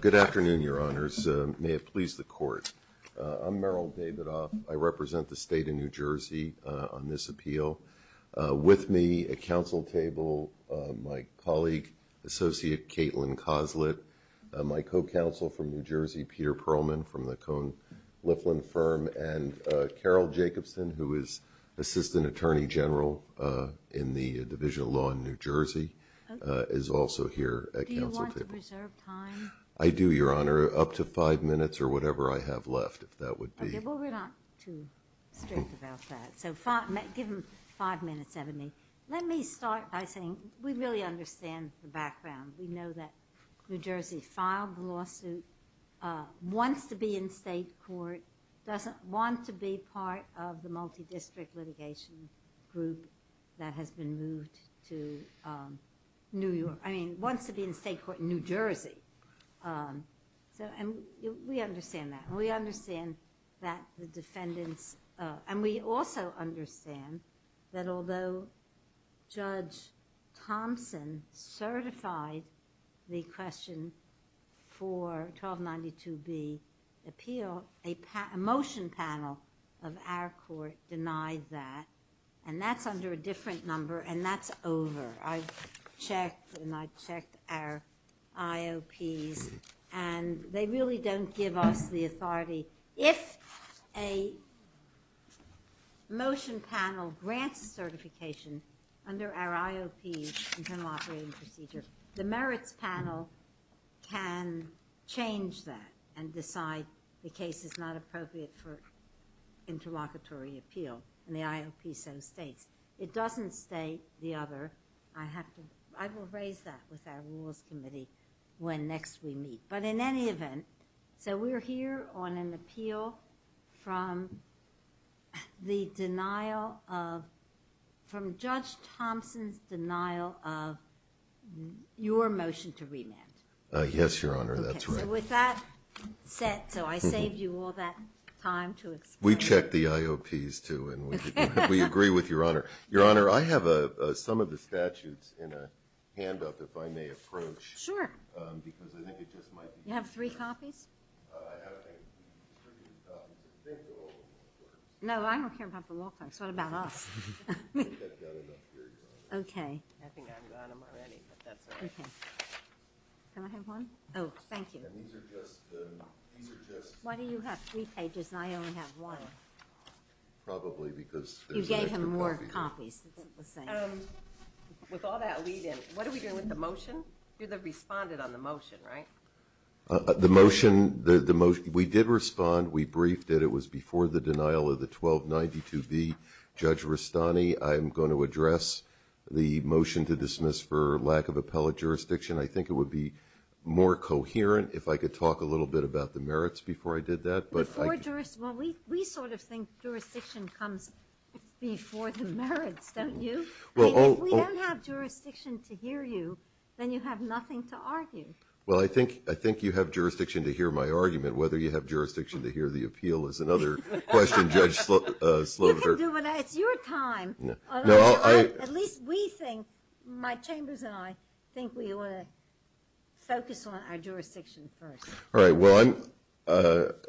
Good afternoon, Your Honors. May it please the Court. I'm Merrill Davidoff. I represent the State of New Jersey on this appeal. With me at council table, my colleague, Associate Caitlin Coslett, my co-counsel from New Jersey, Peter Perlman from the Cohn-Liflin Firm, and Carol Jacobson, who is Assistant Attorney General in the Division of Law in New Jersey, is also here at council table. Do you want to reserve time? I do, Your Honor, up to five minutes or whatever I have left, if that would be. Okay, well, we're not too strict about that, so give him five minutes, Ebony. Let me start by saying we really understand the background. We know that New Jersey filed the lawsuit, wants to be in state court, doesn't want to be in state court that has been moved to New York. I mean, wants to be in state court in New Jersey. We understand that. We understand that the defendants, and we also understand that although Judge Thompson certified the question for 1292B appeal, a motion panel of our court denied that, and that's under a different number, and that's over. I've checked and I've checked our IOPs, and they really don't give us the authority. If a motion panel grants certification under our IOPs, Internal Operating Procedure, the merits panel can change that and decide the case is not appropriate for interlocutory appeal, and the IOP so states. It doesn't state the other. I will raise that with our rules committee when next we meet, but in any event, so we're here on an appeal from the denial of, from Judge Thompson's denial of your motion to remand. Yes, Your Honor, that's right. Okay, so with that set, so I saved you all that time to explain. We checked the IOPs too, and we agree with Your Honor. Your Honor, I have some of the statutes in a hand up if I may approach. Sure. Because I think it just might be fair. You have three copies? I have a distributed copy. No, I don't care about the law clerks. What about us? I think I've got enough here, Your Honor. Okay. I think I've got them already, but that's all right. Okay. Can I have one? Oh, thank you. And these are just, these are just... Why do you have three pages and I only have one? Probably because... You gave him more copies. With all that lead in, what are we doing with the motion? You responded on the motion, right? The motion, the motion, we did respond. We briefed it. It was before the denial of the I'm going to address the motion to dismiss for lack of appellate jurisdiction. I think it would be more coherent if I could talk a little bit about the merits before I did that. Before jurisdiction? Well, we sort of think jurisdiction comes before the merits, don't you? I mean, if we don't have jurisdiction to hear you, then you have nothing to argue. Well, I think you have jurisdiction to hear my argument. Whether you have jurisdiction to hear the appeal is another question Judge Sloviter... You can do it. It's your time. No, I... At least we think, my chambers and I, think we want to focus on our jurisdiction first. All right. Well, I'm,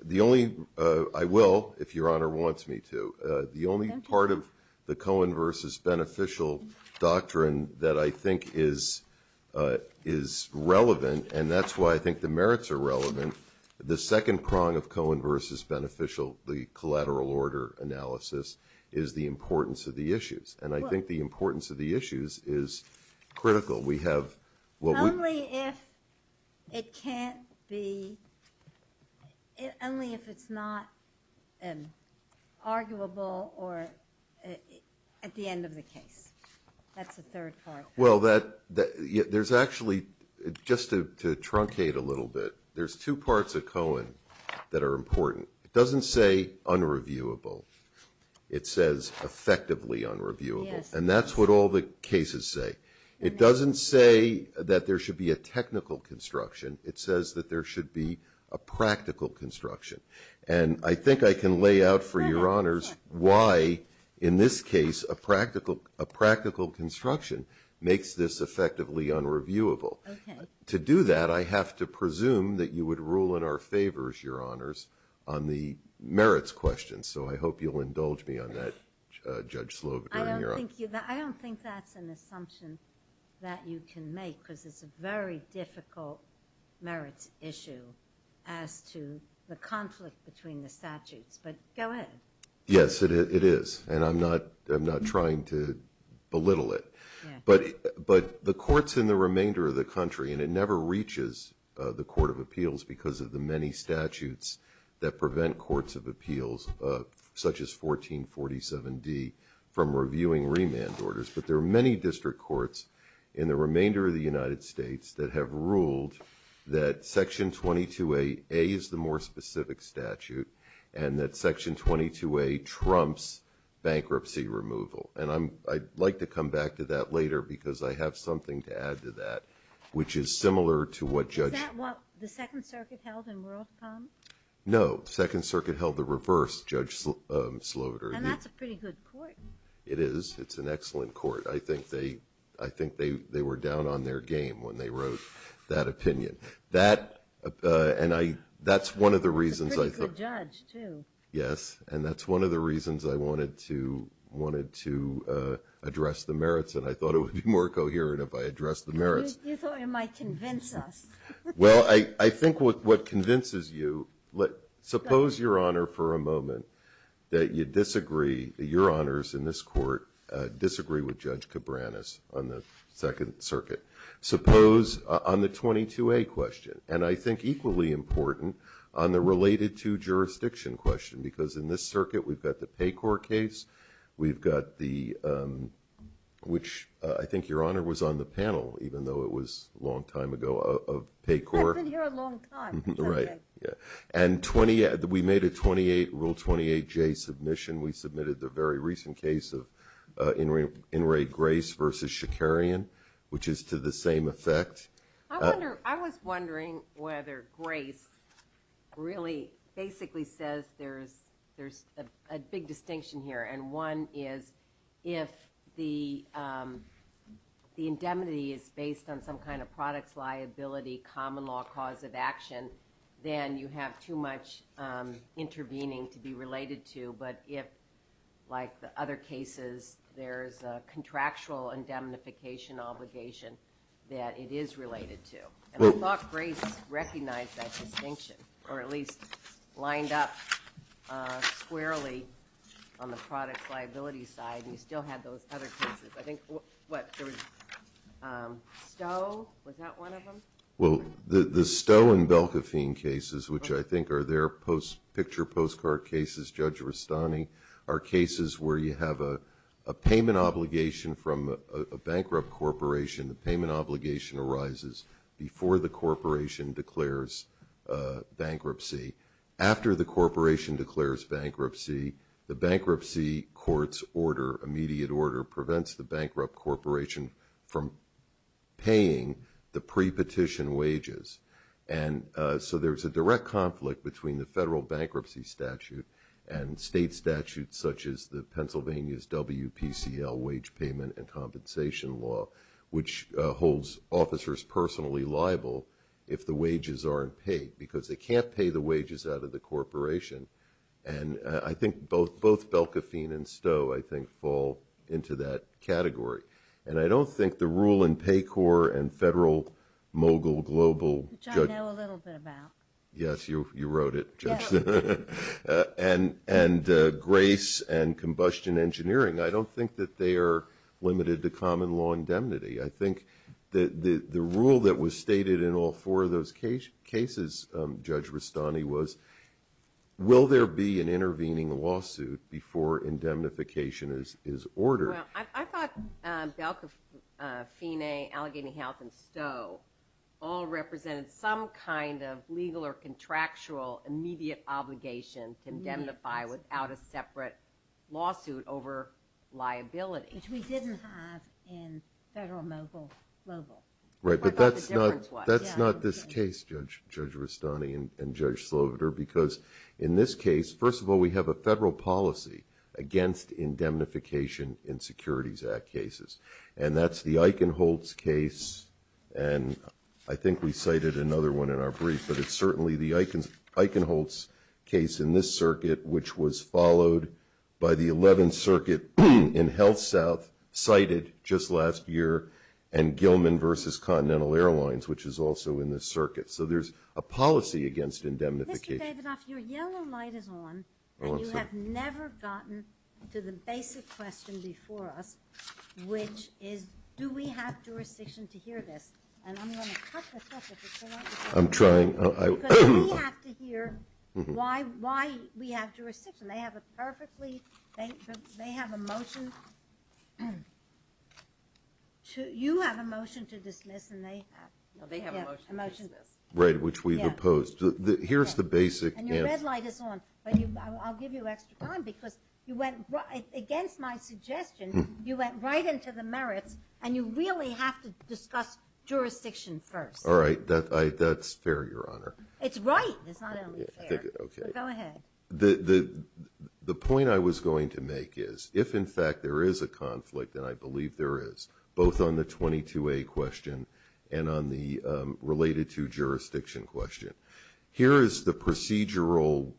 the only, I will if Your Honor wants me to. The only part of the Cohen versus Beneficial doctrine that I think is relevant, and that's why I think the merits are relevant, the second prong of Cohen versus Beneficial, the collateral order analysis, is the importance of the issues. And I think the importance of the issues is critical. We have... Only if it can't be, only if it's not arguable or at the end of the case. That's the third part. Well, that, there's actually, just to truncate a little bit, there's two parts of Cohen that are important. It doesn't say unreviewable. It says effectively unreviewable. Yes. And that's what all the cases say. It doesn't say that there should be a technical construction. It says that there should be a practical construction. And I think I can lay out for Your Honors why, in this case, a practical construction makes this effectively unreviewable. Okay. To do that, I have to presume that you would rule in our favors, Your Honors, on the merits questions. So I hope you'll indulge me on that, Judge Slovut. I don't think that's an assumption that you can make, because it's a very difficult merits issue as to the conflict between the statutes. But go ahead. Yes, it is. And I'm not trying to belittle it. But the courts in the remainder of the country, and it never reaches the Court of Appeals because of the many statutes that prevent courts of appeals, such as 1447D, from reviewing remand orders. But there are many district courts in the remainder of the United States that have ruled that Section 22A is the more specific statute and that Section 22A trumps bankruptcy removal. And I'd like to come back to that later because I have something to add to that, which is similar to what Judge – Is that what the Second Circuit held in WorldCom? No. The Second Circuit held the reverse, Judge Slovut. And that's a pretty good court. It is. It's an excellent court. I think they were down on their game when they wrote that opinion. That's one of the reasons I thought – It's a pretty good judge, too. Yes. And that's one of the reasons I wanted to address the merits, and I thought it would be more coherent if I addressed the merits. You thought it might convince us. Well, I think what convinces you – suppose, Your Honor, for a moment that you disagree, that Your Honors in this court disagree with Judge Cabranes on the Second Circuit. Suppose on the 22A question, and I think equally important on the related to jurisdiction question because in this circuit we've got the PAYCOR case, we've got the – which I think, Your Honor, was on the panel, even though it was a long time ago, of PAYCOR. Yeah, it's been here a long time. Right, yeah. And we made a Rule 28J submission. We submitted the very recent case of In re Grace v. Shakarian, which is to the same effect. I was wondering whether Grace really basically says there's a big distinction here, and one is if the indemnity is based on some kind of products liability, common law cause of action, then you have too much intervening to be related to. But if, like the other cases, there's a contractual indemnification obligation that it is related to, and I thought Grace recognized that distinction, or at least lined up squarely on the products liability side, and you still had those other cases. I think, what, there was Stowe, was that one of them? Well, the Stowe and Belkafein cases, which I think are their picture postcard cases, Judge Rustani, are cases where you have a payment obligation from a bankrupt corporation, the payment obligation arises before the corporation declares bankruptcy. After the corporation declares bankruptcy, the bankruptcy court's order, immediate order, prevents the bankrupt corporation from paying the pre-petition wages. And so there's a direct conflict between the federal bankruptcy statute and state statutes such as the Pennsylvania's WPCL wage payment and compensation law, which holds officers personally liable if the wages aren't paid because they can't pay the wages out of the corporation. And I think both Belkafein and Stowe, I think, fall into that category. And I don't think the rule in PAYCORP and Federal Mogul Global Judge Which I know a little bit about. Yes, you wrote it, Judge. And Grace and Combustion Engineering, I don't think that they are limited to common law indemnity. I think the rule that was stated in all four of those cases, Judge Rustani, was will there be an intervening lawsuit before indemnification is ordered. Well, I thought Belkafein, Allegheny Health, and Stowe all represented some kind of legal or contractual immediate obligation to indemnify without a separate lawsuit over liability. Which we didn't have in Federal Mogul Global. Right, but that's not this case, Judge Rustani and Judge Sloveder, because in this case, first of all, we have a federal policy against indemnification in Securities Act cases. And that's the Eichenholz case, and I think we cited another one in our brief, but it's certainly the Eichenholz case in this circuit, which was followed by the 11th Circuit in HealthSouth, cited just last year, and Gilman v. Continental Airlines, which is also in this circuit. So there's a policy against indemnification. Mr. Davidoff, your yellow light is on, and you have never gotten to the basic question before us, which is do we have jurisdiction to hear this? And I'm going to cut this up if it's too long. I'm trying. Because we have to hear why we have jurisdiction. They have a perfectly – they have a motion. You have a motion to dismiss, and they have a motion to dismiss. Right, which we've opposed. Here's the basic answer. And your red light is on, but I'll give you extra time, because you went against my suggestion. You went right into the merits, and you really have to discuss jurisdiction first. All right, that's fair, Your Honor. It's right. It's not only fair. Okay. Go ahead. The point I was going to make is if, in fact, there is a conflict, and I believe there is, both on the 22A question and on the related to jurisdiction question, here is the procedural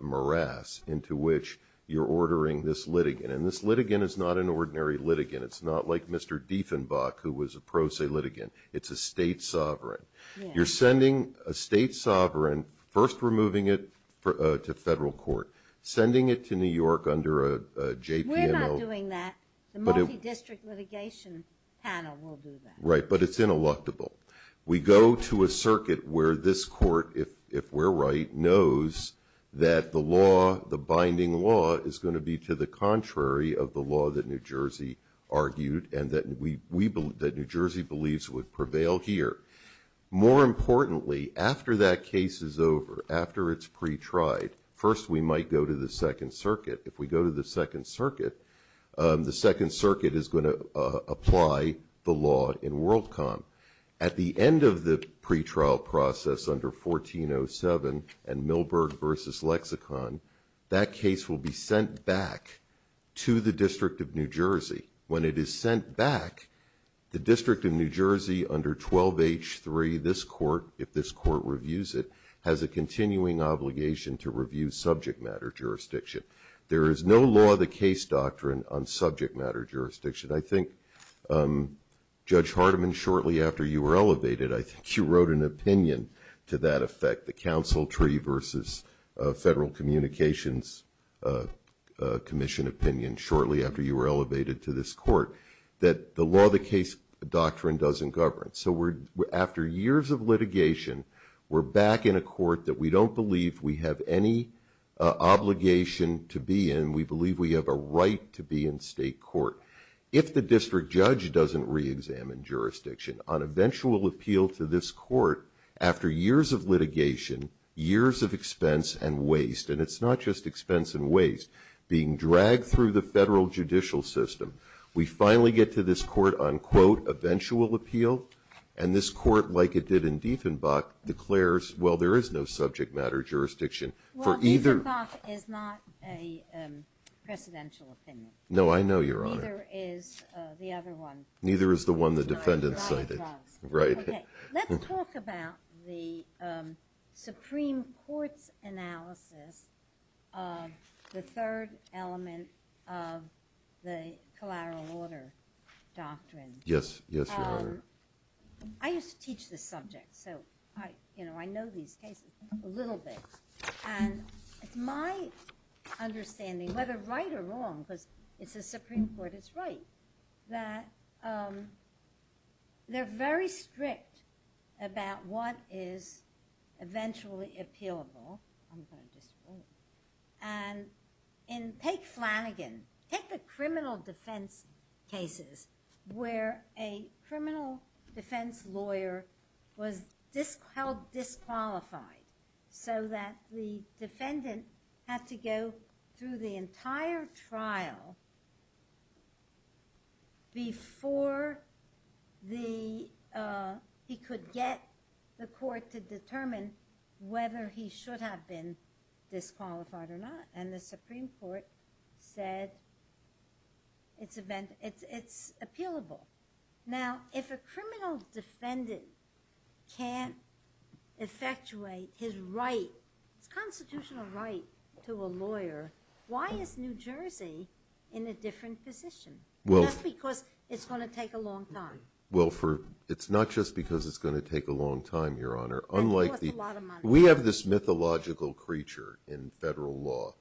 morass into which you're ordering this litigant. And this litigant is not an ordinary litigant. It's not like Mr. Dieffenbach, who was a pro se litigant. It's a state sovereign. You're sending a state sovereign, first removing it to federal court, sending it to New York under a JPMO. We're not doing that. The multi-district litigation panel will do that. Right, but it's ineluctable. We go to a circuit where this court, if we're right, knows that the law, the binding law, is going to be to the contrary of the law that New Jersey argued and that New Jersey believes would prevail here. More importantly, after that case is over, after it's pretried, first we might go to the Second Circuit. If we go to the Second Circuit, the Second Circuit is going to apply the law in WorldCom. At the end of the pretrial process under 1407 and Milberg v. Lexicon, that case will be sent back to the District of New Jersey. When it is sent back, the District of New Jersey under 12H3, this court, if this court reviews it, has a continuing obligation to review subject matter jurisdiction. There is no law of the case doctrine on subject matter jurisdiction. I think Judge Hardiman, shortly after you were elevated, I think you wrote an opinion to that effect, the counsel tree versus federal communications commission opinion, shortly after you were elevated to this court, that the law of the case doctrine doesn't govern. So after years of litigation, we're back in a court that we don't believe we have any obligation to be in. We believe we have a right to be in state court. If the district judge doesn't reexamine jurisdiction, on eventual appeal to this court, after years of litigation, years of expense and waste, and it's not just expense and waste, being dragged through the federal judicial system, we finally get to this court on, quote, eventual appeal. And this court, like it did in Dieffenbach, declares, well, there is no subject matter jurisdiction for either. Well, Dieffenbach is not a presidential opinion. No, I know, Your Honor. Neither is the other one. Neither is the one the defendant cited. Right. Let's talk about the Supreme Court's analysis of the third element of the collateral order doctrine. Yes, Your Honor. I used to teach this subject, so I know these cases a little bit. And it's my understanding, whether right or wrong, because it's the Supreme Court, it's right, that they're very strict about what is eventually appealable. I'm going to just read. And take Flanagan. Take the criminal defense cases where a criminal defense lawyer was held disqualified so that the defendant had to go through the entire trial before he could get the court to determine whether he should have been disqualified or not. And the Supreme Court said it's appealable. Now, if a criminal defendant can't effectuate his right, his constitutional right to a lawyer, why is New Jersey in a different position? Just because it's going to take a long time. Well, it's not just because it's going to take a long time, Your Honor. We have this mythological creature in federal law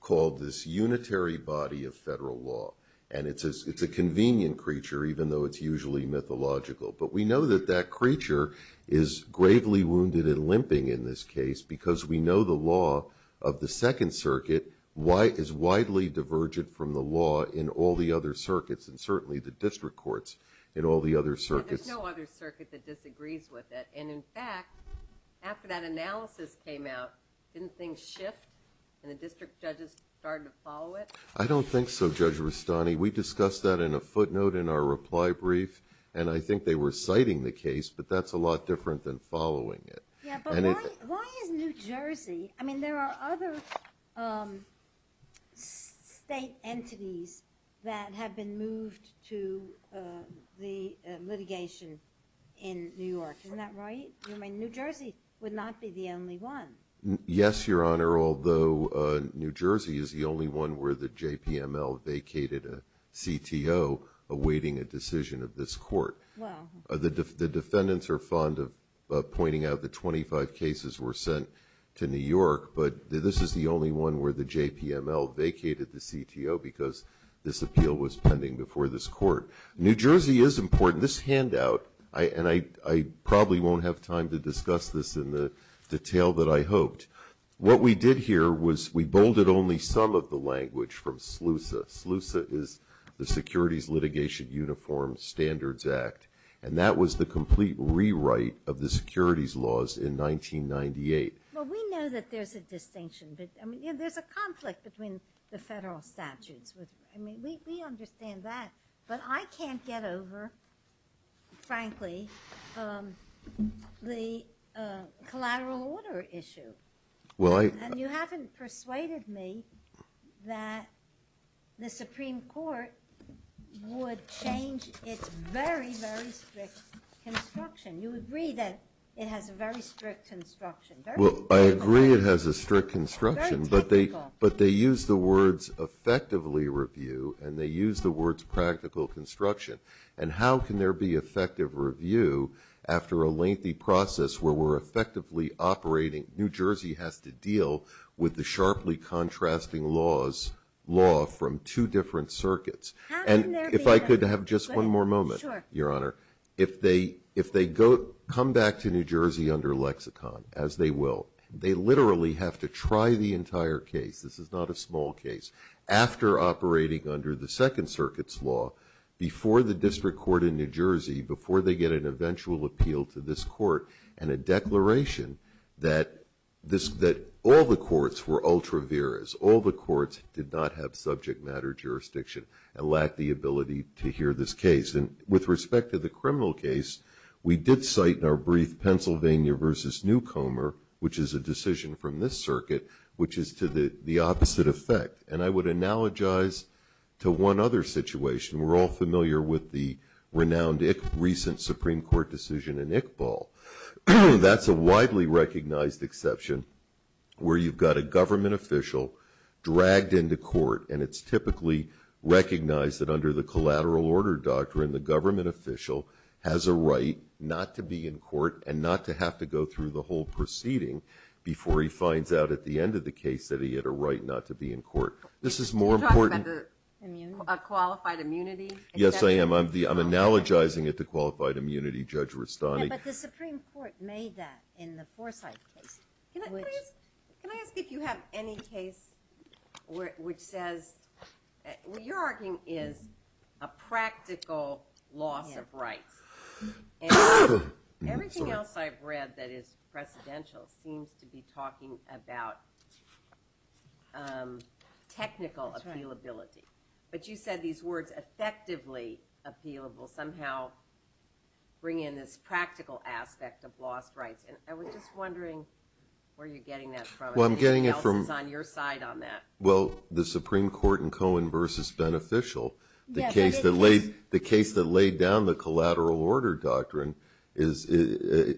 called this unitary body of federal law. And it's a convenient creature, even though it's usually mythological. But we know that that creature is gravely wounded and limping in this case because we know the law of the Second Circuit is widely divergent from the law in all the other circuits and certainly the district courts in all the other circuits. There's no other circuit that disagrees with it. And, in fact, after that analysis came out, didn't things shift and the district judges started to follow it? I don't think so, Judge Rustani. We discussed that in a footnote in our reply brief, and I think they were citing the case, but that's a lot different than following it. Yeah, but why is New Jersey? I mean, there are other state entities that have been moved to the litigation in New York. Isn't that right? I mean, New Jersey would not be the only one. Yes, Your Honor, although New Jersey is the only one where the JPML vacated a CTO awaiting a decision of this court. The defendants are fond of pointing out that 25 cases were sent to New York, but this is the only one where the JPML vacated the CTO because this appeal was pending before this court. New Jersey is important. This handout, and I probably won't have time to discuss this in the detail that I hoped, what we did here was we bolded only some of the language from SLUSA. SLUSA is the Securities Litigation Uniform Standards Act, and that was the complete rewrite of the securities laws in 1998. Well, we know that there's a distinction. I mean, there's a conflict between the federal statutes. I mean, we understand that, but I can't get over, frankly, the collateral order issue. And you haven't persuaded me that the Supreme Court would change its very, very strict construction. You agree that it has a very strict construction. Well, I agree it has a strict construction, but they use the words effectively review, and they use the words practical construction. And how can there be effective review after a lengthy process where we're effectively operating? New Jersey has to deal with the sharply contrasting laws, law from two different circuits. And if I could have just one more moment, Your Honor. If they come back to New Jersey under lexicon, as they will, they literally have to try the entire case. This is not a small case. After operating under the Second Circuit's law, before the district court in New Jersey, before they get an eventual appeal to this court and a declaration that all the courts were ultra viras, all the courts did not have subject matter jurisdiction and lacked the ability to hear this case. And with respect to the criminal case, we did cite in our brief Pennsylvania v. Newcomer, which is a decision from this circuit, which is to the opposite effect. And I would analogize to one other situation. We're all familiar with the recent Supreme Court decision in Iqbal. That's a widely recognized exception where you've got a government official dragged into court, and it's typically recognized that under the collateral order doctrine, the government official has a right not to be in court and not to have to go through the whole proceeding before he finds out at the end of the case that he had a right not to be in court. Do you talk about the qualified immunity? Yes, I am. I'm analogizing it to qualified immunity, Judge Rustani. Yeah, but the Supreme Court made that in the Forsyth case. Can I ask if you have any case which says, what you're arguing is a practical loss of rights. And everything else I've read that is precedential seems to be talking about technical appealability. But you said these words, effectively appealable, somehow bring in this practical aspect of lost rights. And I was just wondering where you're getting that from. Anything else is on your side on that. Well, the Supreme Court in Cohen v. Beneficial, the case that laid down the collateral order doctrine, is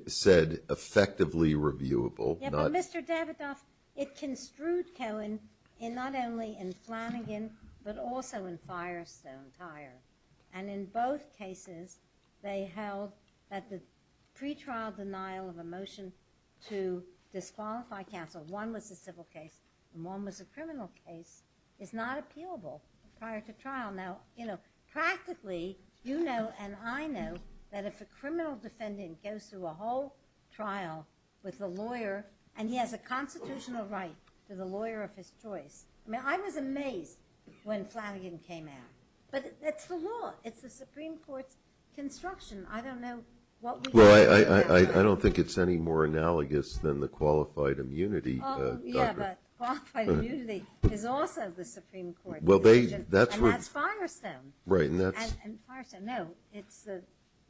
said effectively reviewable. Yeah, but Mr. Davidoff, it construed Cohen in not only in Flanagan, but also in Firestone Tire. And in both cases, they held that the pretrial denial of a motion to disqualify counsel, one was a civil case and one was a criminal case, is not appealable prior to trial. Now, practically, you know and I know that if a criminal defendant goes through a whole trial with a lawyer and he has a constitutional right to the lawyer of his choice. I mean, I was amazed when Flanagan came out. But that's the law. It's the Supreme Court's construction. I don't know what we can do about that. Well, I don't think it's any more analogous than the qualified immunity doctrine. Oh, yeah, but qualified immunity is also the Supreme Court. And that's Firestone. Right, and that's... And Firestone, no, it's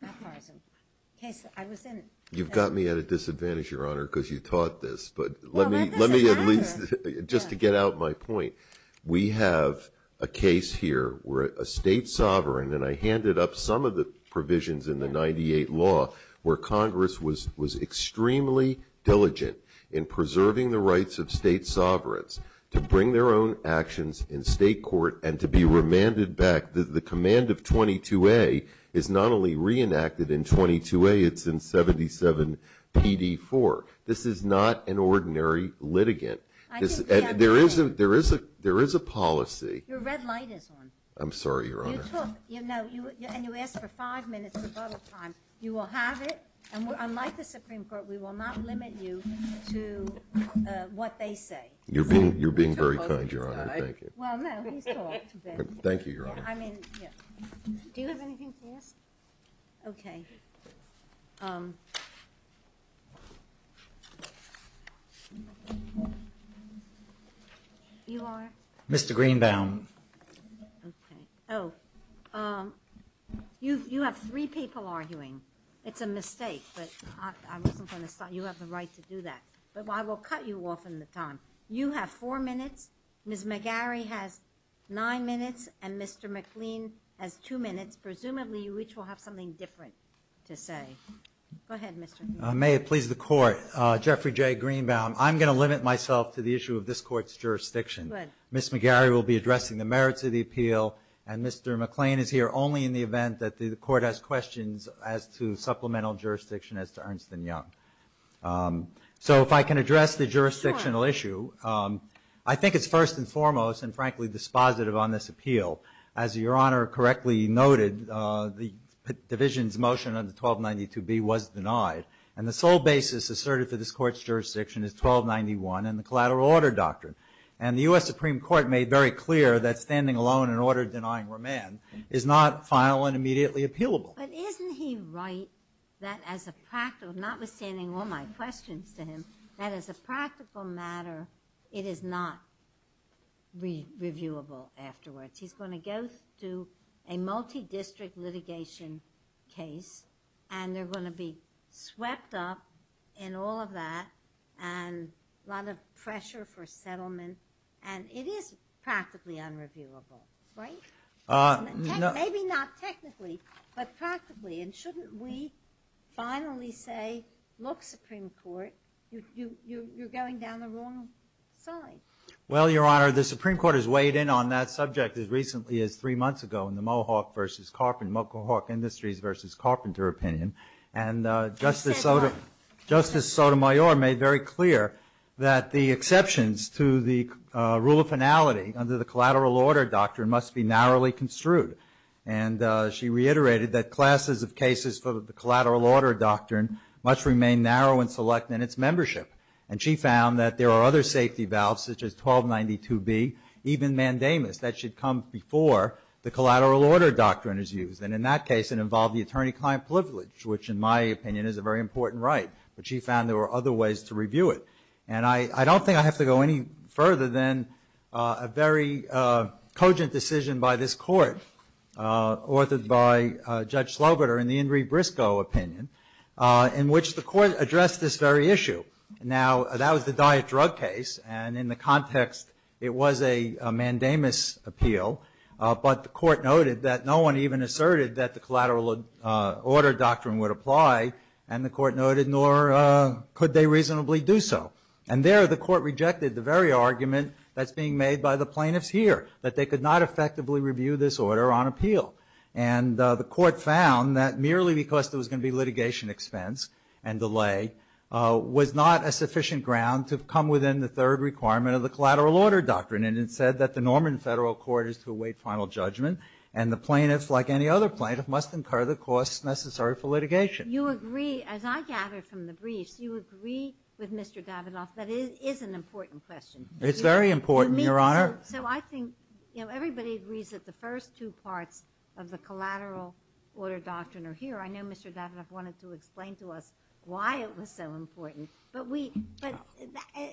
not Firestone. The case that I was in... You've got me at a disadvantage, Your Honor, because you taught this. But let me at least, just to get out my point, we have a case here where a state sovereign, and I handed up some of the provisions in the 98 law where Congress was extremely diligent in preserving the rights of state sovereigns to bring their own actions in state court and to be remanded back. The command of 22A is not only reenacted in 22A, it's in 77PD4. This is not an ordinary litigant. There is a policy... Your red light is on. I'm sorry, Your Honor. You took... And you asked for five minutes of public time. You will have it. And unlike the Supreme Court, we will not limit you to what they say. You're being very kind, Your Honor. Well, no, he's taught. Thank you, Your Honor. Do you have anything to ask? Okay. You are? Mr. Greenbaum. Okay. Oh. You have three people arguing. It's a mistake, but I wasn't going to stop. You have the right to do that. But I will cut you off in the time. You have four minutes, Ms. McGarry has nine minutes, and Mr. McLean has two minutes, presumably you each will have something different to say. Go ahead, Mr. McLean. May it please the Court, Jeffrey J. Greenbaum, I'm going to limit myself to the issue of this Court's jurisdiction. Good. Ms. McGarry will be addressing the merits of the appeal, and Mr. McLean is here only in the event that the Court has questions as to supplemental jurisdiction as to Ernst & Young. So if I can address the jurisdictional issue. I think it's first and foremost and, frankly, dispositive on this appeal. As Your Honor correctly noted, the division's motion under 1292B was denied, and the sole basis asserted for this Court's jurisdiction is 1291 and the collateral order doctrine. And the U.S. Supreme Court made very clear that standing alone in order denying remand is not final and immediately appealable. But isn't he right that as a practical, notwithstanding all my questions to him, that as a practical matter it is not reviewable afterwards? He's going to go through a multi-district litigation case, and they're going to be swept up in all of that and a lot of pressure for settlement. And it is practically unreviewable, right? Maybe not technically, but practically. And shouldn't we finally say, look, Supreme Court, you're going down the wrong side? Well, Your Honor, the Supreme Court has weighed in on that subject as recently as three months ago in the Mohawk v. Carpenter, Mohawk Industries v. Carpenter opinion. And Justice Sotomayor made very clear that the exceptions to the rule of finality under the collateral order doctrine must be narrowly construed. And she reiterated that classes of cases for the collateral order doctrine must remain narrow and select in its membership. And she found that there are other safety valves, such as 1292B, even mandamus, that should come before the collateral order doctrine is used. And in that case, it involved the attorney-client privilege, which in my opinion is a very important right. But she found there were other ways to review it. And I don't think I have to go any further than a very cogent decision by this Court, authored by Judge Slobiter in the Ingrid Briscoe opinion, in which the Court addressed this very issue. Now, that was the diet drug case, and in the context it was a mandamus appeal. But the Court noted that no one even asserted that the collateral order doctrine would apply. And the Court noted, nor could they reasonably do so. And there the Court rejected the very argument that's being made by the plaintiffs here, that they could not effectively review this order on appeal. And the Court found that merely because there was going to be litigation expense and delay was not a sufficient ground to come within the third requirement of the collateral order doctrine. And it said that the Norman Federal Court is to await final judgment, and the plaintiffs, like any other plaintiff, must incur the costs necessary for litigation. You agree, as I gather from the briefs, you agree with Mr. Davidoff that it is an important question. It's very important, Your Honor. So I think everybody agrees that the first two parts of the collateral order doctrine are here. I know Mr. Davidoff wanted to explain to us why it was so important. But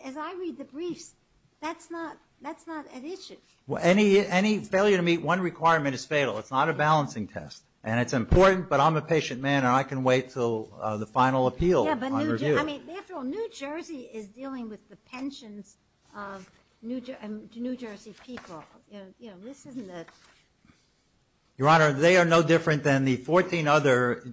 as I read the briefs, that's not at issue. Any failure to meet one requirement is fatal. It's not a balancing test. And it's important, but I'm a patient man, and I can wait until the final appeal on review. I mean, after all, New Jersey is dealing with the pensions of New Jersey people. You know, this isn't a... Your Honor, they are no different than the 14 other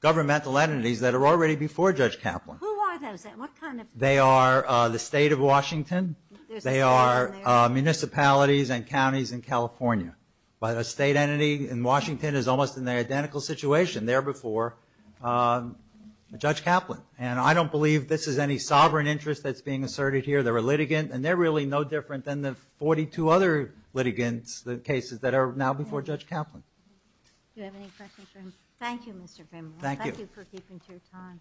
governmental entities that are already before Judge Kaplan. Who are those? What kind of... They are the state of Washington. There's a state in there. They are municipalities and counties in California. But a state entity in Washington is almost in the identical situation there before Judge Kaplan. And I don't believe this is any sovereign interest that's being asserted here. They're a litigant. And they're really no different than the 42 other litigants, the cases that are now before Judge Kaplan. Do you have any questions for him? Thank you, Mr. Fimre. Thank you. Thank you for keeping to your time.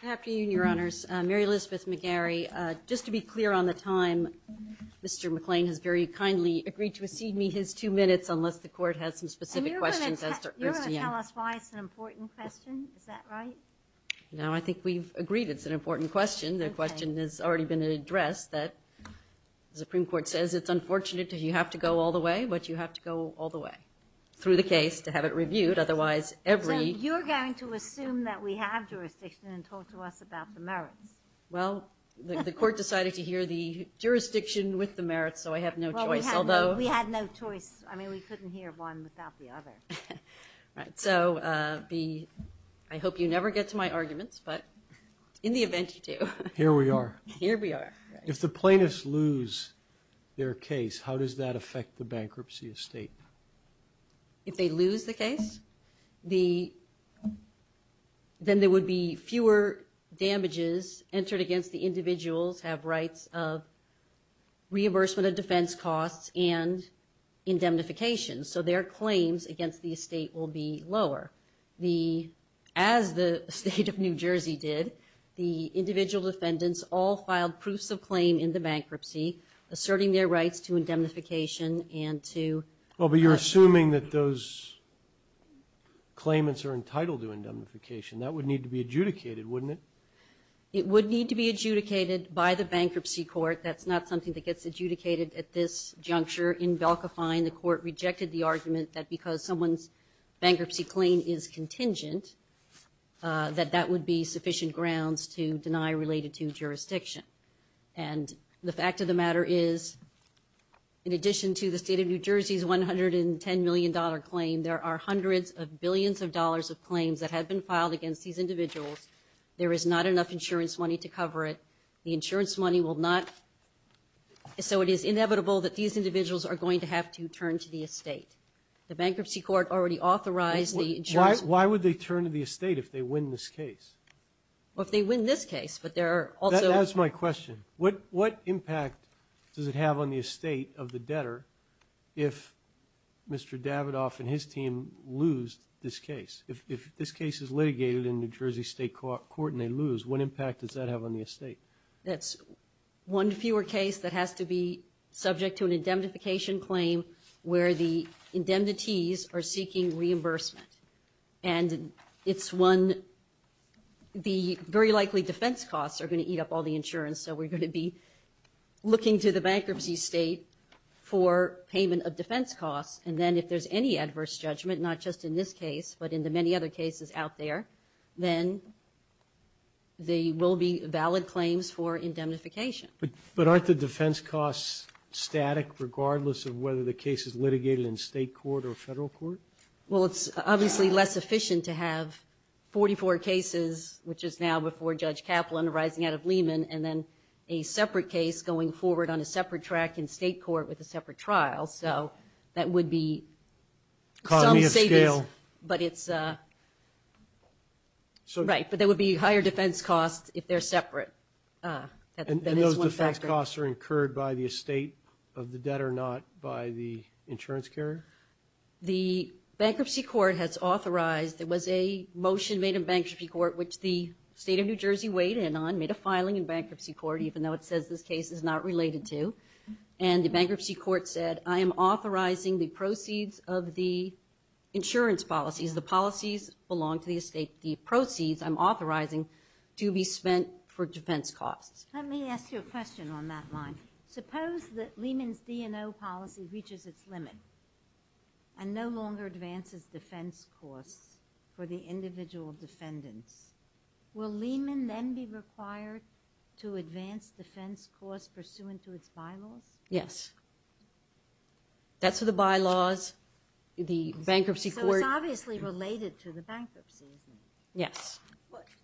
Good afternoon, Your Honors. Mary Elizabeth McGarry, just to be clear on the time, Mr. McClain has very kindly agreed to exceed me his two minutes unless the Court has some specific questions. And you're going to tell us why it's an important question. Is that right? No, I think we've agreed it's an important question. The question has already been addressed that the Supreme Court says it's unfortunate that you have to go all the way, but you have to go all the way through the case to have it reviewed. Otherwise, every... So you're going to assume that we have jurisdiction and talk to us about the merits. Well, the Court decided to hear the jurisdiction with the merits, so I have no choice, although... We had no choice. I mean, we couldn't hear one without the other. Right. So I hope you never get to my arguments, but in the event you do... Here we are. Here we are. If the plaintiffs lose their case, how does that affect the bankruptcy estate? If they lose the case, then there would be fewer damages entered against the individuals have rights of reimbursement of defense costs and indemnification. So their claims against the estate will be lower. As the state of New Jersey did, the individual defendants all filed proofs of claim in the bankruptcy, asserting their rights to indemnification and to... Well, but you're assuming that those claimants are entitled to indemnification. That would need to be adjudicated, wouldn't it? It would need to be adjudicated by the bankruptcy court. That's not something that gets adjudicated at this juncture. In Belka Fine, the Court rejected the argument that because someone's bankruptcy claim is contingent, that that would be sufficient grounds to deny related to jurisdiction. And the fact of the matter is, in addition to the state of New Jersey's $110 million claim, there are hundreds of billions of dollars of claims that have been filed against these individuals. There is not enough insurance money to cover it. The insurance money will not... So it is inevitable that these individuals are going to have to turn to the estate. The bankruptcy court already authorized the insurance... Why would they turn to the estate if they win this case? Well, if they win this case, but there are also... That's my question. What impact does it have on the estate of the debtor if Mr. Davidoff and his team lose this case? If this case is litigated in New Jersey State Court and they lose, what impact does that have on the estate? That's one fewer case that has to be subject to an indemnification claim where the indemnities are seeking reimbursement. And it's one... The very likely defense costs are going to eat up all the insurance, so we're going to be looking to the bankruptcy state for payment of defense costs. And then if there's any adverse judgment, not just in this case, but in the many other cases out there, then they will be valid claims for indemnification. But aren't the defense costs static, regardless of whether the case is litigated in state court or federal court? Well, it's obviously less efficient to have 44 cases, which is now before Judge Kaplan arising out of Lehman, and then a separate case going forward on a separate track in state court with a separate trial. So that would be... Cognitive scale. But it's... Right, but there would be higher defense costs if they're separate. And those defense costs are incurred by the estate of the debtor, not by the insurance carrier? The bankruptcy court has authorized... There was a motion made in bankruptcy court, which the state of New Jersey weighed in on, made a filing in bankruptcy court, even though it says this case is not related to. And the bankruptcy court said, I am authorizing the proceeds of the insurance policies. The policies belong to the estate. The proceeds I'm authorizing to be spent for defense costs. Let me ask you a question on that line. Suppose that Lehman's D&O policy reaches its limit and no longer advances defense costs for the individual defendants. Will Lehman then be required to advance defense costs pursuant to its bylaws? Yes. That's for the bylaws. The bankruptcy court... So it's obviously related to the bankruptcy, isn't it? Yes.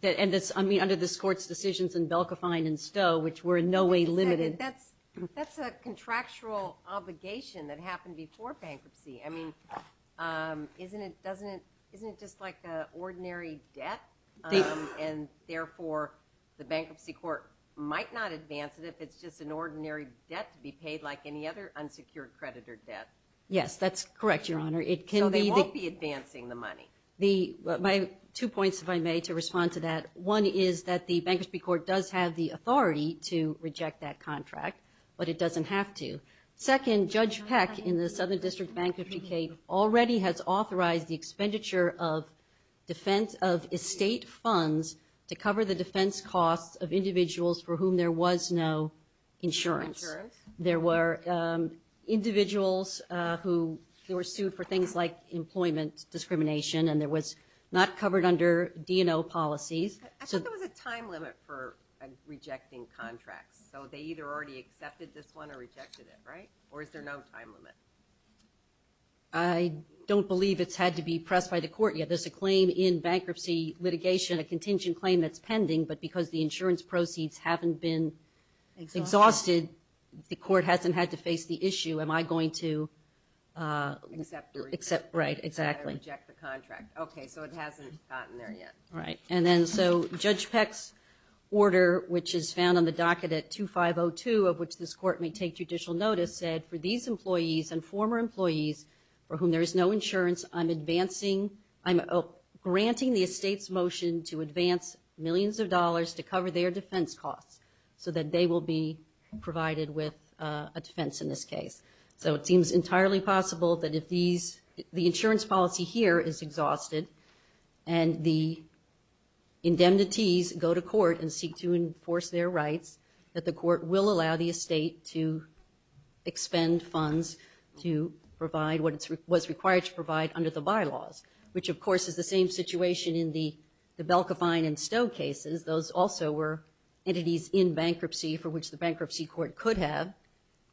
And under this court's decisions in Belka, Fine, and Stowe, which were in no way limited... That's a contractual obligation that happened before bankruptcy. I mean, isn't it just like an ordinary debt? And therefore, the bankruptcy court might not advance it if it's just an ordinary debt to be paid like any other unsecured creditor debt. Yes, that's correct, Your Honor. So they won't be advancing the money. Two points, if I may, to respond to that. One is that the bankruptcy court does have the authority to reject that contract, but it doesn't have to. Second, Judge Peck in the Southern District Bankruptcy Case already has authorized the expenditure of estate funds to cover the defense costs of individuals for whom there was no insurance. There were individuals who were sued for things like employment discrimination, and there was not covered under D&O policies. I thought there was a time limit for rejecting contracts. So they either already accepted this one or rejected it, right? Or is there no time limit? I don't believe it's had to be pressed by the court yet. There's a claim in bankruptcy litigation, a contingent claim that's pending, but because the insurance proceeds haven't been exhausted, the court hasn't had to face the issue. Am I going to... Accept or reject? Right, exactly. Reject the contract. Okay, so it hasn't gotten there yet. Right, and then so Judge Peck's order, which is found on the docket at 2502, of which this court may take judicial notice, said for these employees and former employees for whom there is no insurance, I'm granting the estate's motion to advance millions of dollars to cover their defense costs so that they will be provided with a defense in this case. So it seems entirely possible that if these... The insurance policy here is exhausted and the indemnities go to court and seek to enforce their rights, that the court will allow the estate to expend funds to provide what it was required to provide under the bylaws, which, of course, is the same situation in the Belka, Fine, and Stowe cases. Those also were entities in bankruptcy for which the bankruptcy court could have,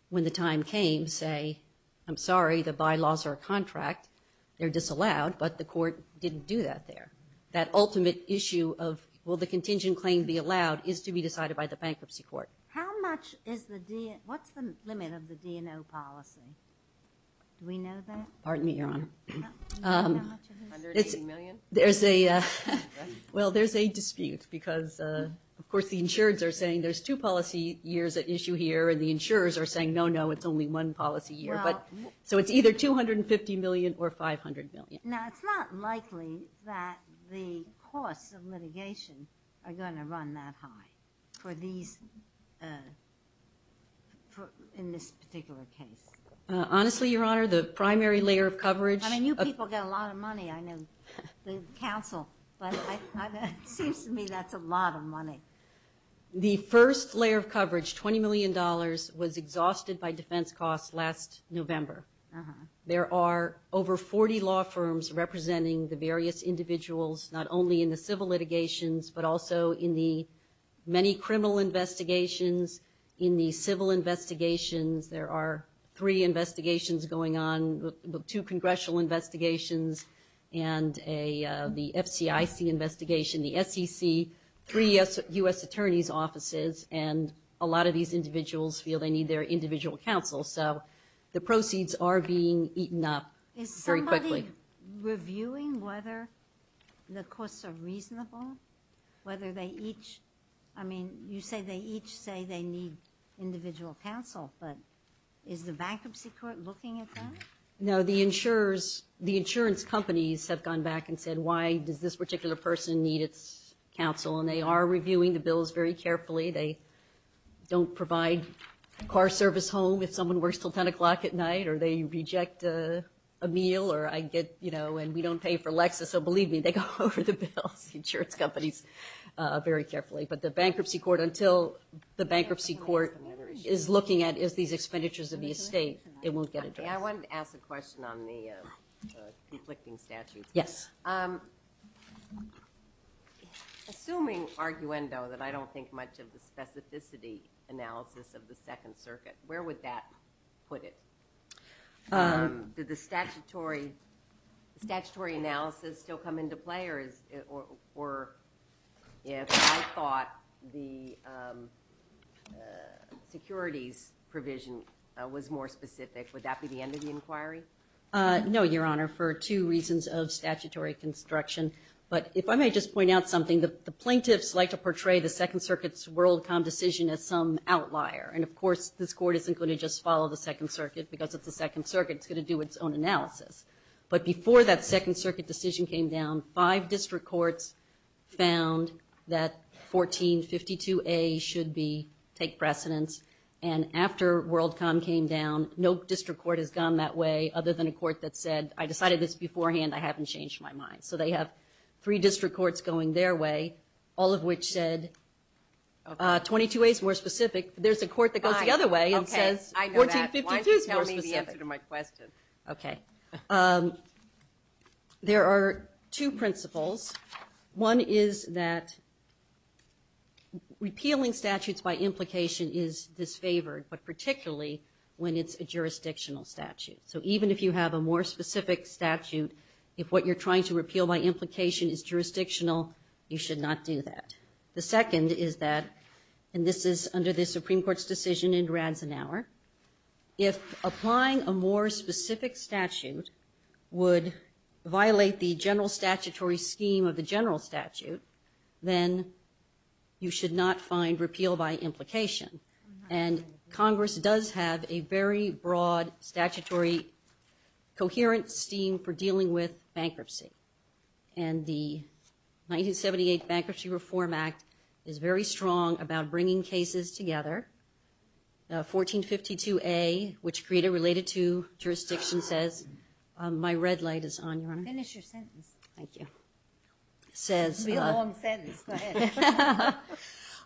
when the time came, say, I'm sorry, the bylaws are a contract, they're disallowed, but the court didn't do that there. That ultimate issue of will the contingent claim be allowed is to be decided by the bankruptcy court. How much is the... What's the limit of the D&O policy? Do we know that? Pardon me, Your Honor. How much is it? $180 million? There's a... Well, there's a dispute because, of course, the insureds are saying there's two policy years at issue here and the insurers are saying, no, no, it's only one policy year. So it's either $250 million or $500 million. Now, it's not likely that the costs of litigation are going to run that high for these... ..in this particular case. Honestly, Your Honor, the primary layer of coverage... I mean, you people get a lot of money. I know the counsel, but it seems to me that's a lot of money. The first layer of coverage, $20 million, was exhausted by defense costs last November. Uh-huh. There are over 40 law firms representing the various individuals, not only in the civil litigations, but also in the many criminal investigations, in the civil investigations. There are three investigations going on, the two congressional investigations and the FCIC investigation, the SEC, three U.S. attorneys' offices, and a lot of these individuals feel they need their individual counsel. So the proceeds are being eaten up very quickly. Is somebody reviewing whether the costs are reasonable? Whether they each... I mean, you say they each say they need individual counsel, but is the bankruptcy court looking at that? No, the insurers, the insurance companies, have gone back and said, why does this particular person need its counsel? And they are reviewing the bills very carefully. They don't provide car service home if someone works till 10 o'clock at night, or they reject a meal, or I get, you know, and we don't pay for Lexus, so believe me, they go over the bills, the insurance companies, very carefully. But the bankruptcy court, until the bankruptcy court is looking at these expenditures of the estate, it won't get addressed. I wanted to ask a question on the conflicting statutes. Yes. Assuming, arguendo, that I don't think much of the specificity analysis of the Second Circuit, where would that put it? Did the statutory analysis still come into play, or if I thought the securities provision was more specific, would that be the end of the inquiry? No, Your Honor, for two reasons of statutory construction. But if I may just point out something, the plaintiffs like to portray the Second Circuit's WorldCom decision as some outlier, and of course this court isn't going to just follow the Second Circuit because it's the Second Circuit, it's going to do its own analysis. But before that Second Circuit decision came down, five district courts found that 1452A should take precedence. And after WorldCom came down, no district court has gone that way other than a court that said, I decided this beforehand, I haven't changed my mind. So they have three district courts going their way, all of which said 22A is more specific. There's a court that goes the other way and says 1452 is more specific. Why don't you tell me the answer to my question? Okay. There are two principles. One is that repealing statutes by implication is disfavored, but particularly when it's a jurisdictional statute. So even if you have a more specific statute, if what you're trying to repeal by implication is jurisdictional, you should not do that. The second is that, and this is under the Supreme Court's decision in Radzenauer, if applying a more specific statute would violate the general statutory scheme of the general statute, then you should not find repeal by implication. And Congress does have a very broad statutory coherent scheme for dealing with bankruptcy. And the 1978 Bankruptcy Reform Act is very strong about bringing cases together. 1452A, which created related to jurisdiction, says, my red light is on, Your Honor. Finish your sentence. Thank you. It's going to be a long sentence. Go ahead.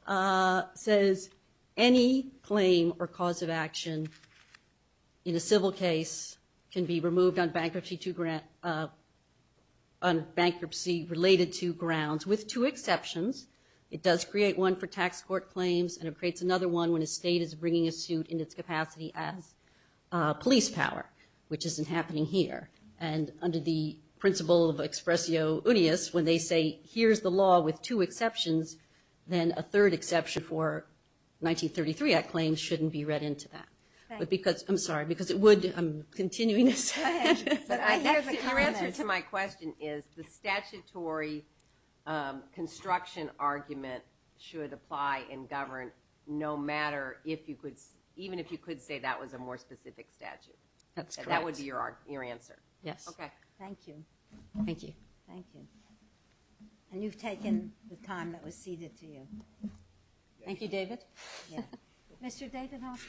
It says any claim or cause of action in a civil case can be removed on bankruptcy-related to grounds, with two exceptions. It does create one for tax court claims and it creates another one when a state is bringing a suit in its capacity as police power, which isn't happening here. And under the principle of expressio unius, when they say here's the law with two exceptions, then a third exception for 1933 Act claims shouldn't be read into that. I'm sorry, because it would. I'm continuing this. Your answer to my question is the statutory construction argument should apply in government no matter if you could, even if you could say that was a more specific statute. That's correct. That would be your answer. Yes. Okay. Thank you. Thank you. Thank you. And you've taken the time that was ceded to you. Thank you, David. Mr. Davidoff,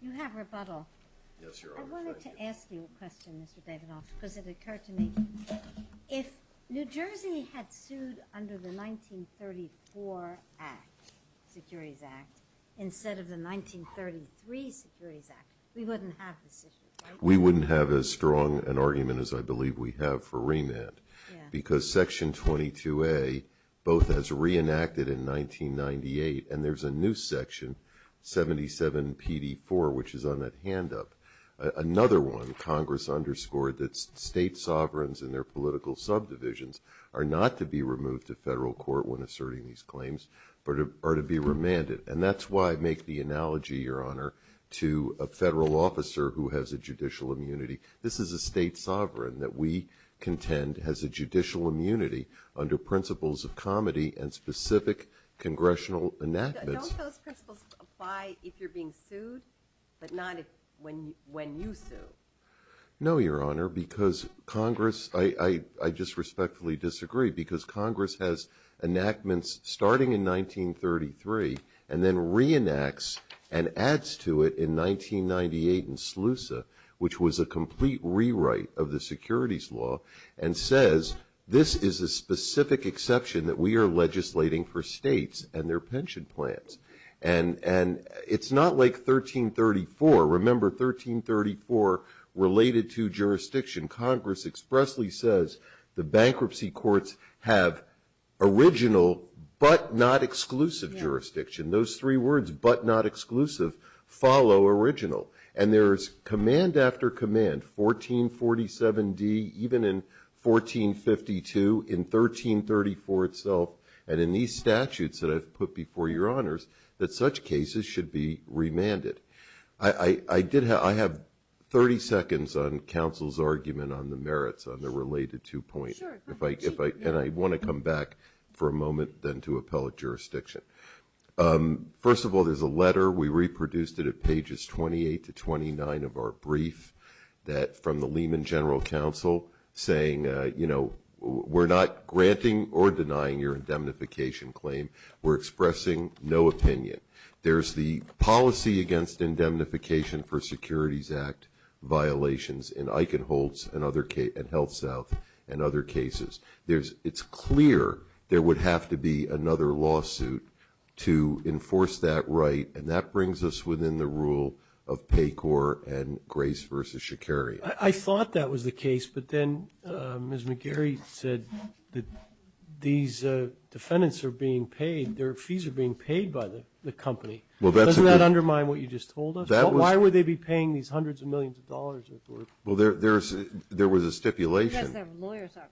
you have rebuttal. Yes, Your Honor. I wanted to ask you a question, Mr. Davidoff, because it occurred to me. If New Jersey had sued under the 1934 Act, Securities Act, instead of the 1933 Securities Act, we wouldn't have this issue, right? We wouldn't have as strong an argument as I believe we have for remand. Yeah. Because Section 22A, both as reenacted in 1998, and there's a new section, 77 PD4, which is on that hand up, another one Congress underscored that state sovereigns and their political subdivisions are not to be removed to federal court when asserting these claims, but are to be remanded. And that's why I make the analogy, Your Honor, to a federal officer who has a judicial immunity. This is a state sovereign that we contend has a judicial immunity under principles of comity and specific congressional enactments. Don't those principles apply if you're being sued, but not when you sue? No, Your Honor, because Congress, I just respectfully disagree, because Congress has enactments starting in 1933 and then reenacts and adds to it in 1998 in SLUSA, which was a complete rewrite of the securities law, and says this is a specific exception that we are legislating for states and their pension plans. And it's not like 1334. Remember, 1334 related to jurisdiction. Congress expressly says the bankruptcy courts have original but not exclusive jurisdiction. Those three words, but not exclusive, follow original. And there is command after command, 1447D, even in 1452, in 1334 itself, and in these statutes that I've put before Your Honors, that such cases should be remanded. I have 30 seconds on counsel's argument on the merits, on the related two points, and I want to come back for a moment then to appellate jurisdiction. First of all, there's a letter. We reproduced it at pages 28 to 29 of our brief from the Lehman General Council saying, you know, we're not granting or denying your indemnification claim. We're expressing no opinion. There's the policy against indemnification for Securities Act violations in Eichenholz and HealthSouth and other cases. It's clear there would have to be another lawsuit to enforce that right, and that brings us within the rule of Pacor and Grace v. Sha'Carri. I thought that was the case, but then Ms. McGarry said that these defendants are being paid, their fees are being paid by the company. Doesn't that undermine what you just told us? Why would they be paying these hundreds of millions of dollars? Well, there was a stipulation. Because their lawyers are paying them.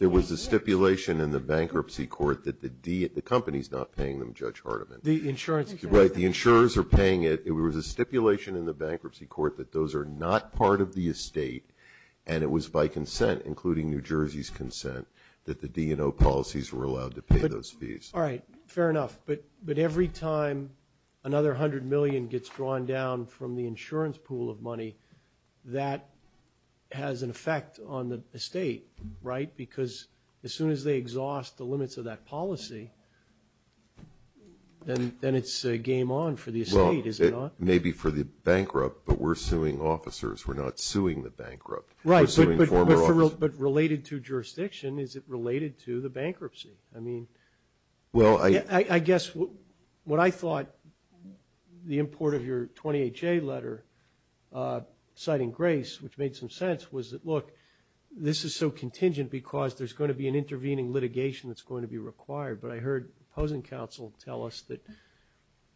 There was a stipulation in the bankruptcy court that the company's not paying them, Judge Hardiman. The insurance. Right, the insurers are paying it. There was a stipulation in the bankruptcy court that those are not part of the estate, and it was by consent, including New Jersey's consent, that the D&O policies were allowed to pay those fees. All right, fair enough. But every time another $100 million gets drawn down from the insurance pool of money, that has an effect on the estate, right? Because as soon as they exhaust the limits of that policy, then it's game on for the estate, is it not? Well, maybe for the bankrupt, but we're suing officers. We're not suing the bankrupt. We're suing former officers. Right, but related to jurisdiction, is it related to the bankruptcy? I mean, I guess what I thought the import of your 28-J letter, citing Grace, which made some sense, was that, look, this is so contingent because there's going to be I heard opposing counsel tell us that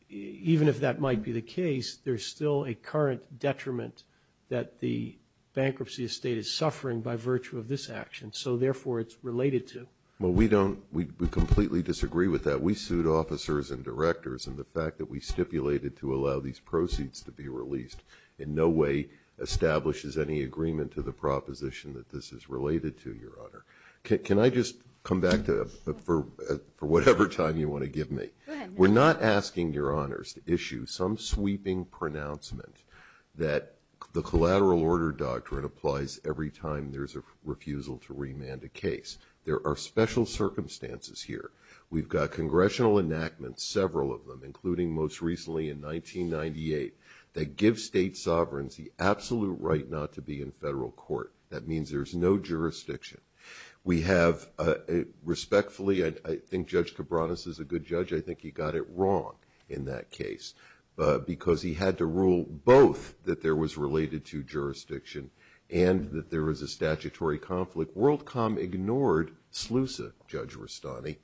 even if that might be the case, there's still a current detriment that the bankruptcy estate is suffering by virtue of this action, so therefore it's related to. Well, we don't – we completely disagree with that. We sued officers and directors, and the fact that we stipulated to allow these proceeds to be released in no way establishes any agreement to the proposition that this is related to, Your Honor. Can I just come back for whatever time you want to give me? Go ahead. We're not asking, Your Honors, to issue some sweeping pronouncement that the collateral order doctrine applies every time there's a refusal to remand a case. There are special circumstances here. We've got congressional enactments, several of them, including most recently in 1998, that give state sovereigns the absolute right not to be in federal court. That means there's no jurisdiction. We have respectfully – I think Judge Cabranes is a good judge. I think he got it wrong in that case because he had to rule both that there was related to jurisdiction and that there was a statutory conflict. WorldCom ignored SLUSA, Judge Rustani,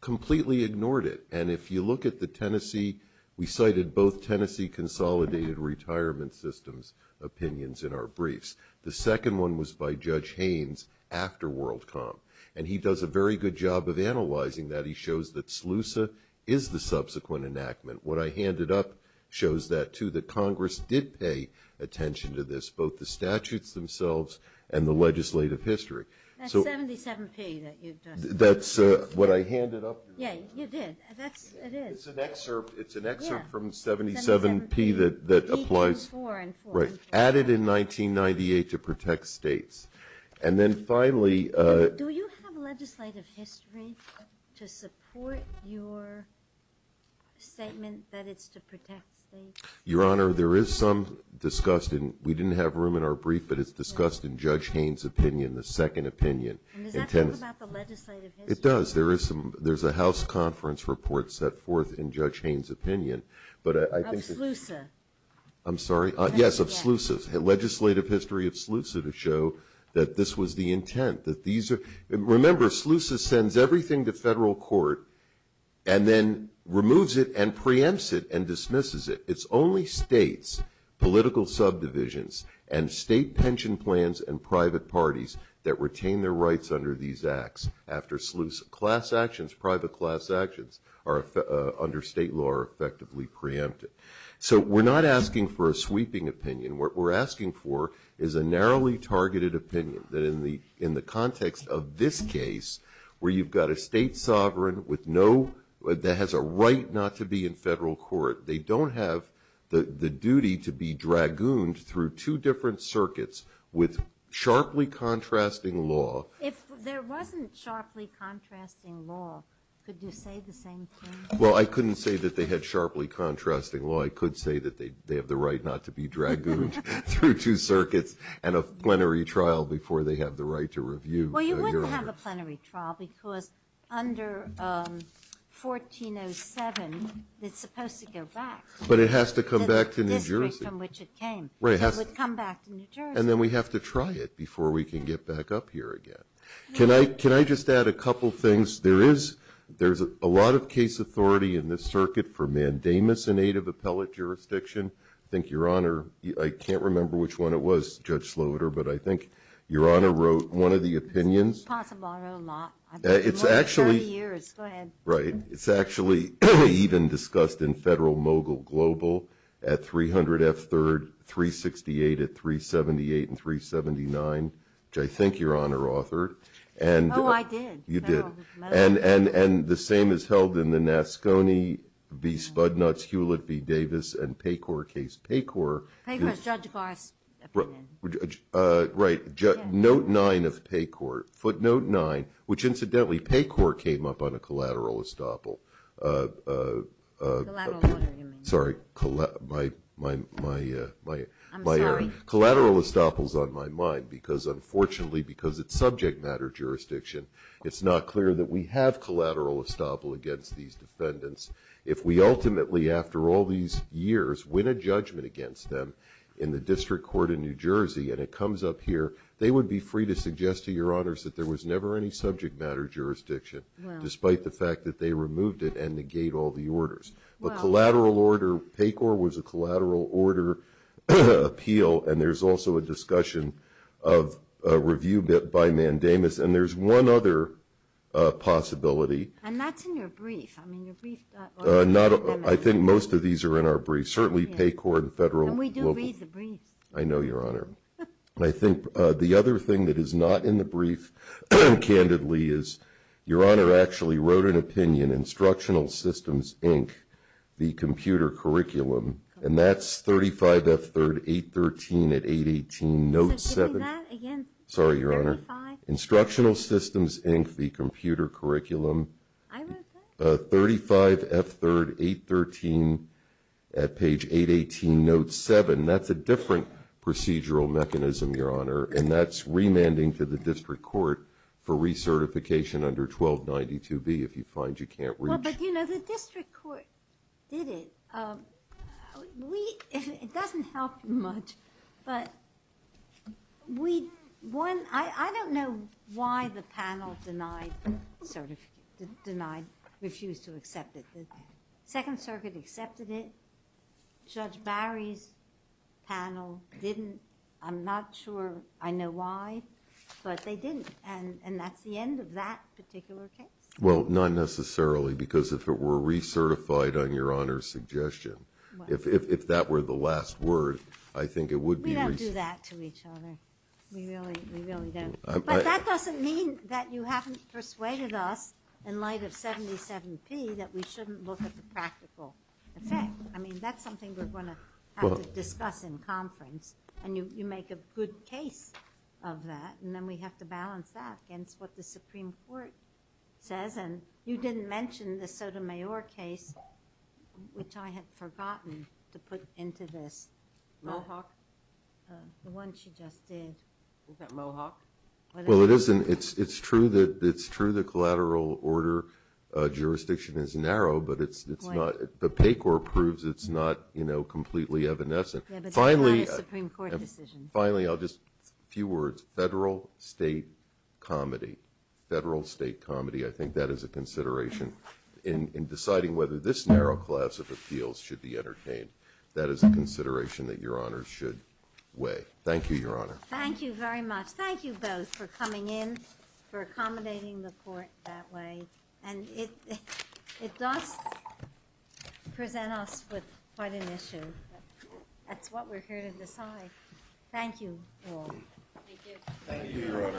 completely ignored it. And if you look at the Tennessee – we cited both Tennessee consolidated retirement systems opinions in our briefs. The second one was by Judge Haynes after WorldCom. And he does a very good job of analyzing that. He shows that SLUSA is the subsequent enactment. What I handed up shows that, too, that Congress did pay attention to this, both the statutes themselves and the legislative history. That's 77P that you've done. That's what I handed up, Your Honor. Yeah, you did. That's – it is. It's an excerpt from 77P that applies. Right, added in 1998 to protect states. And then finally – Do you have legislative history to support your statement that it's to protect states? Your Honor, there is some discussed in – we didn't have room in our brief, but it's discussed in Judge Haynes' opinion, the second opinion. And does that talk about the legislative history? It does. There is some – there's a House conference report set forth in Judge Haynes' opinion. Of SLUSA. I'm sorry? Yes, of SLUSA. Legislative history of SLUSA to show that this was the intent, that these are – remember, SLUSA sends everything to federal court and then removes it and preempts it and dismisses it. It's only states, political subdivisions, and state pension plans and private parties that retain their rights under these acts after SLUSA. Class actions, private class actions, under state law are effectively preempted. So we're not asking for a sweeping opinion. What we're asking for is a narrowly targeted opinion, that in the context of this case where you've got a state sovereign with no – that has a right not to be in federal court, they don't have the duty to be dragooned through two different circuits with sharply contrasting law. If there wasn't sharply contrasting law, could you say the same thing? Well, I couldn't say that they had sharply contrasting law. I could say that they have the right not to be dragooned through two circuits and a plenary trial before they have the right to review. Well, you wouldn't have a plenary trial because under 1407 it's supposed to go back. But it has to come back to New Jersey. The district from which it came. Right. It would come back to New Jersey. And then we have to try it before we can get back up here again. Can I just add a couple things? There is a lot of case authority in this circuit for mandamus, a native appellate jurisdiction. I think Your Honor – I can't remember which one it was, Judge Slaughter, but I think Your Honor wrote one of the opinions. It's possible I wrote a lot. It's actually – More than 30 years. Go ahead. Right. It's actually even discussed in Federal Mogul Global at 300 F. 3rd, 368 at 378 and 379, which I think Your Honor authored. Oh, I did. You did. And the same is held in the Nascone v. Spudnuts, Hewlett v. Davis, and Pacor case. Pacor. Pacor is Judge Barr's opinion. Right. Note 9 of Pacor. Footnote 9. Which, incidentally, Pacor came up on a collateral estoppel. Collateral what do you mean? Sorry. I'm sorry. Collateral estoppels on my mind because, unfortunately, because it's subject matter jurisdiction, it's not clear that we have collateral estoppel against these defendants. If we ultimately, after all these years, win a judgment against them in the District Court in New Jersey and it comes up here, they would be free to suggest to Your Honors that there was never any subject matter jurisdiction, despite the fact that they removed it and negate all the orders. But collateral order, Pacor was a collateral order appeal, and there's also a discussion of review by Mandamus. And there's one other possibility. And that's in your brief. I mean, your brief. I think most of these are in our brief, certainly Pacor and Federal Mogul. And we do read the briefs. I know, Your Honor. I think the other thing that is not in the brief, candidly, is Your Honor actually wrote an opinion, Instructional Systems, Inc., the Computer Curriculum, and that's 35F3 813 at page 818, note 7. Say that again. Sorry, Your Honor. 35. Instructional Systems, Inc., the Computer Curriculum. I wrote that. 35F3 813 at page 818, note 7. That's a different procedural mechanism, Your Honor, and that's remanding to the district court for recertification under 1292B if you find you can't reach. Well, but, you know, the district court did it. It doesn't help much, but I don't know why the panel denied, refused to accept it. The Second Circuit accepted it. Judge Barry's panel didn't. I'm not sure I know why, but they didn't, and that's the end of that particular case. Well, not necessarily because if it were recertified on Your Honor's suggestion, if that were the last word, I think it would be recertified. We don't do that to each other. We really don't. But that doesn't mean that you haven't persuaded us in light of 77P that we shouldn't look at the practical effect. I mean, that's something we're going to have to discuss in conference, and you make a good case of that, and then we have to balance that against what the Supreme Court says, and you didn't mention the Sotomayor case, which I had forgotten to put into this. Mohawk? The one she just did. Is that Mohawk? Well, it's true the collateral order jurisdiction is narrow, but PACOR proves it's not completely evanescent. Yeah, but that's not a Supreme Court decision. Finally, just a few words. Federal, state, comedy. Federal, state, comedy. I think that is a consideration in deciding whether this narrow class of appeals should be entertained. That is a consideration that Your Honor should weigh. Thank you, Your Honor. Thank you very much. Thank you both for coming in, for accommodating the court that way. And it does present us with quite an issue. That's what we're here to decide. Thank you all. Thank you. Thank you, Your Honor.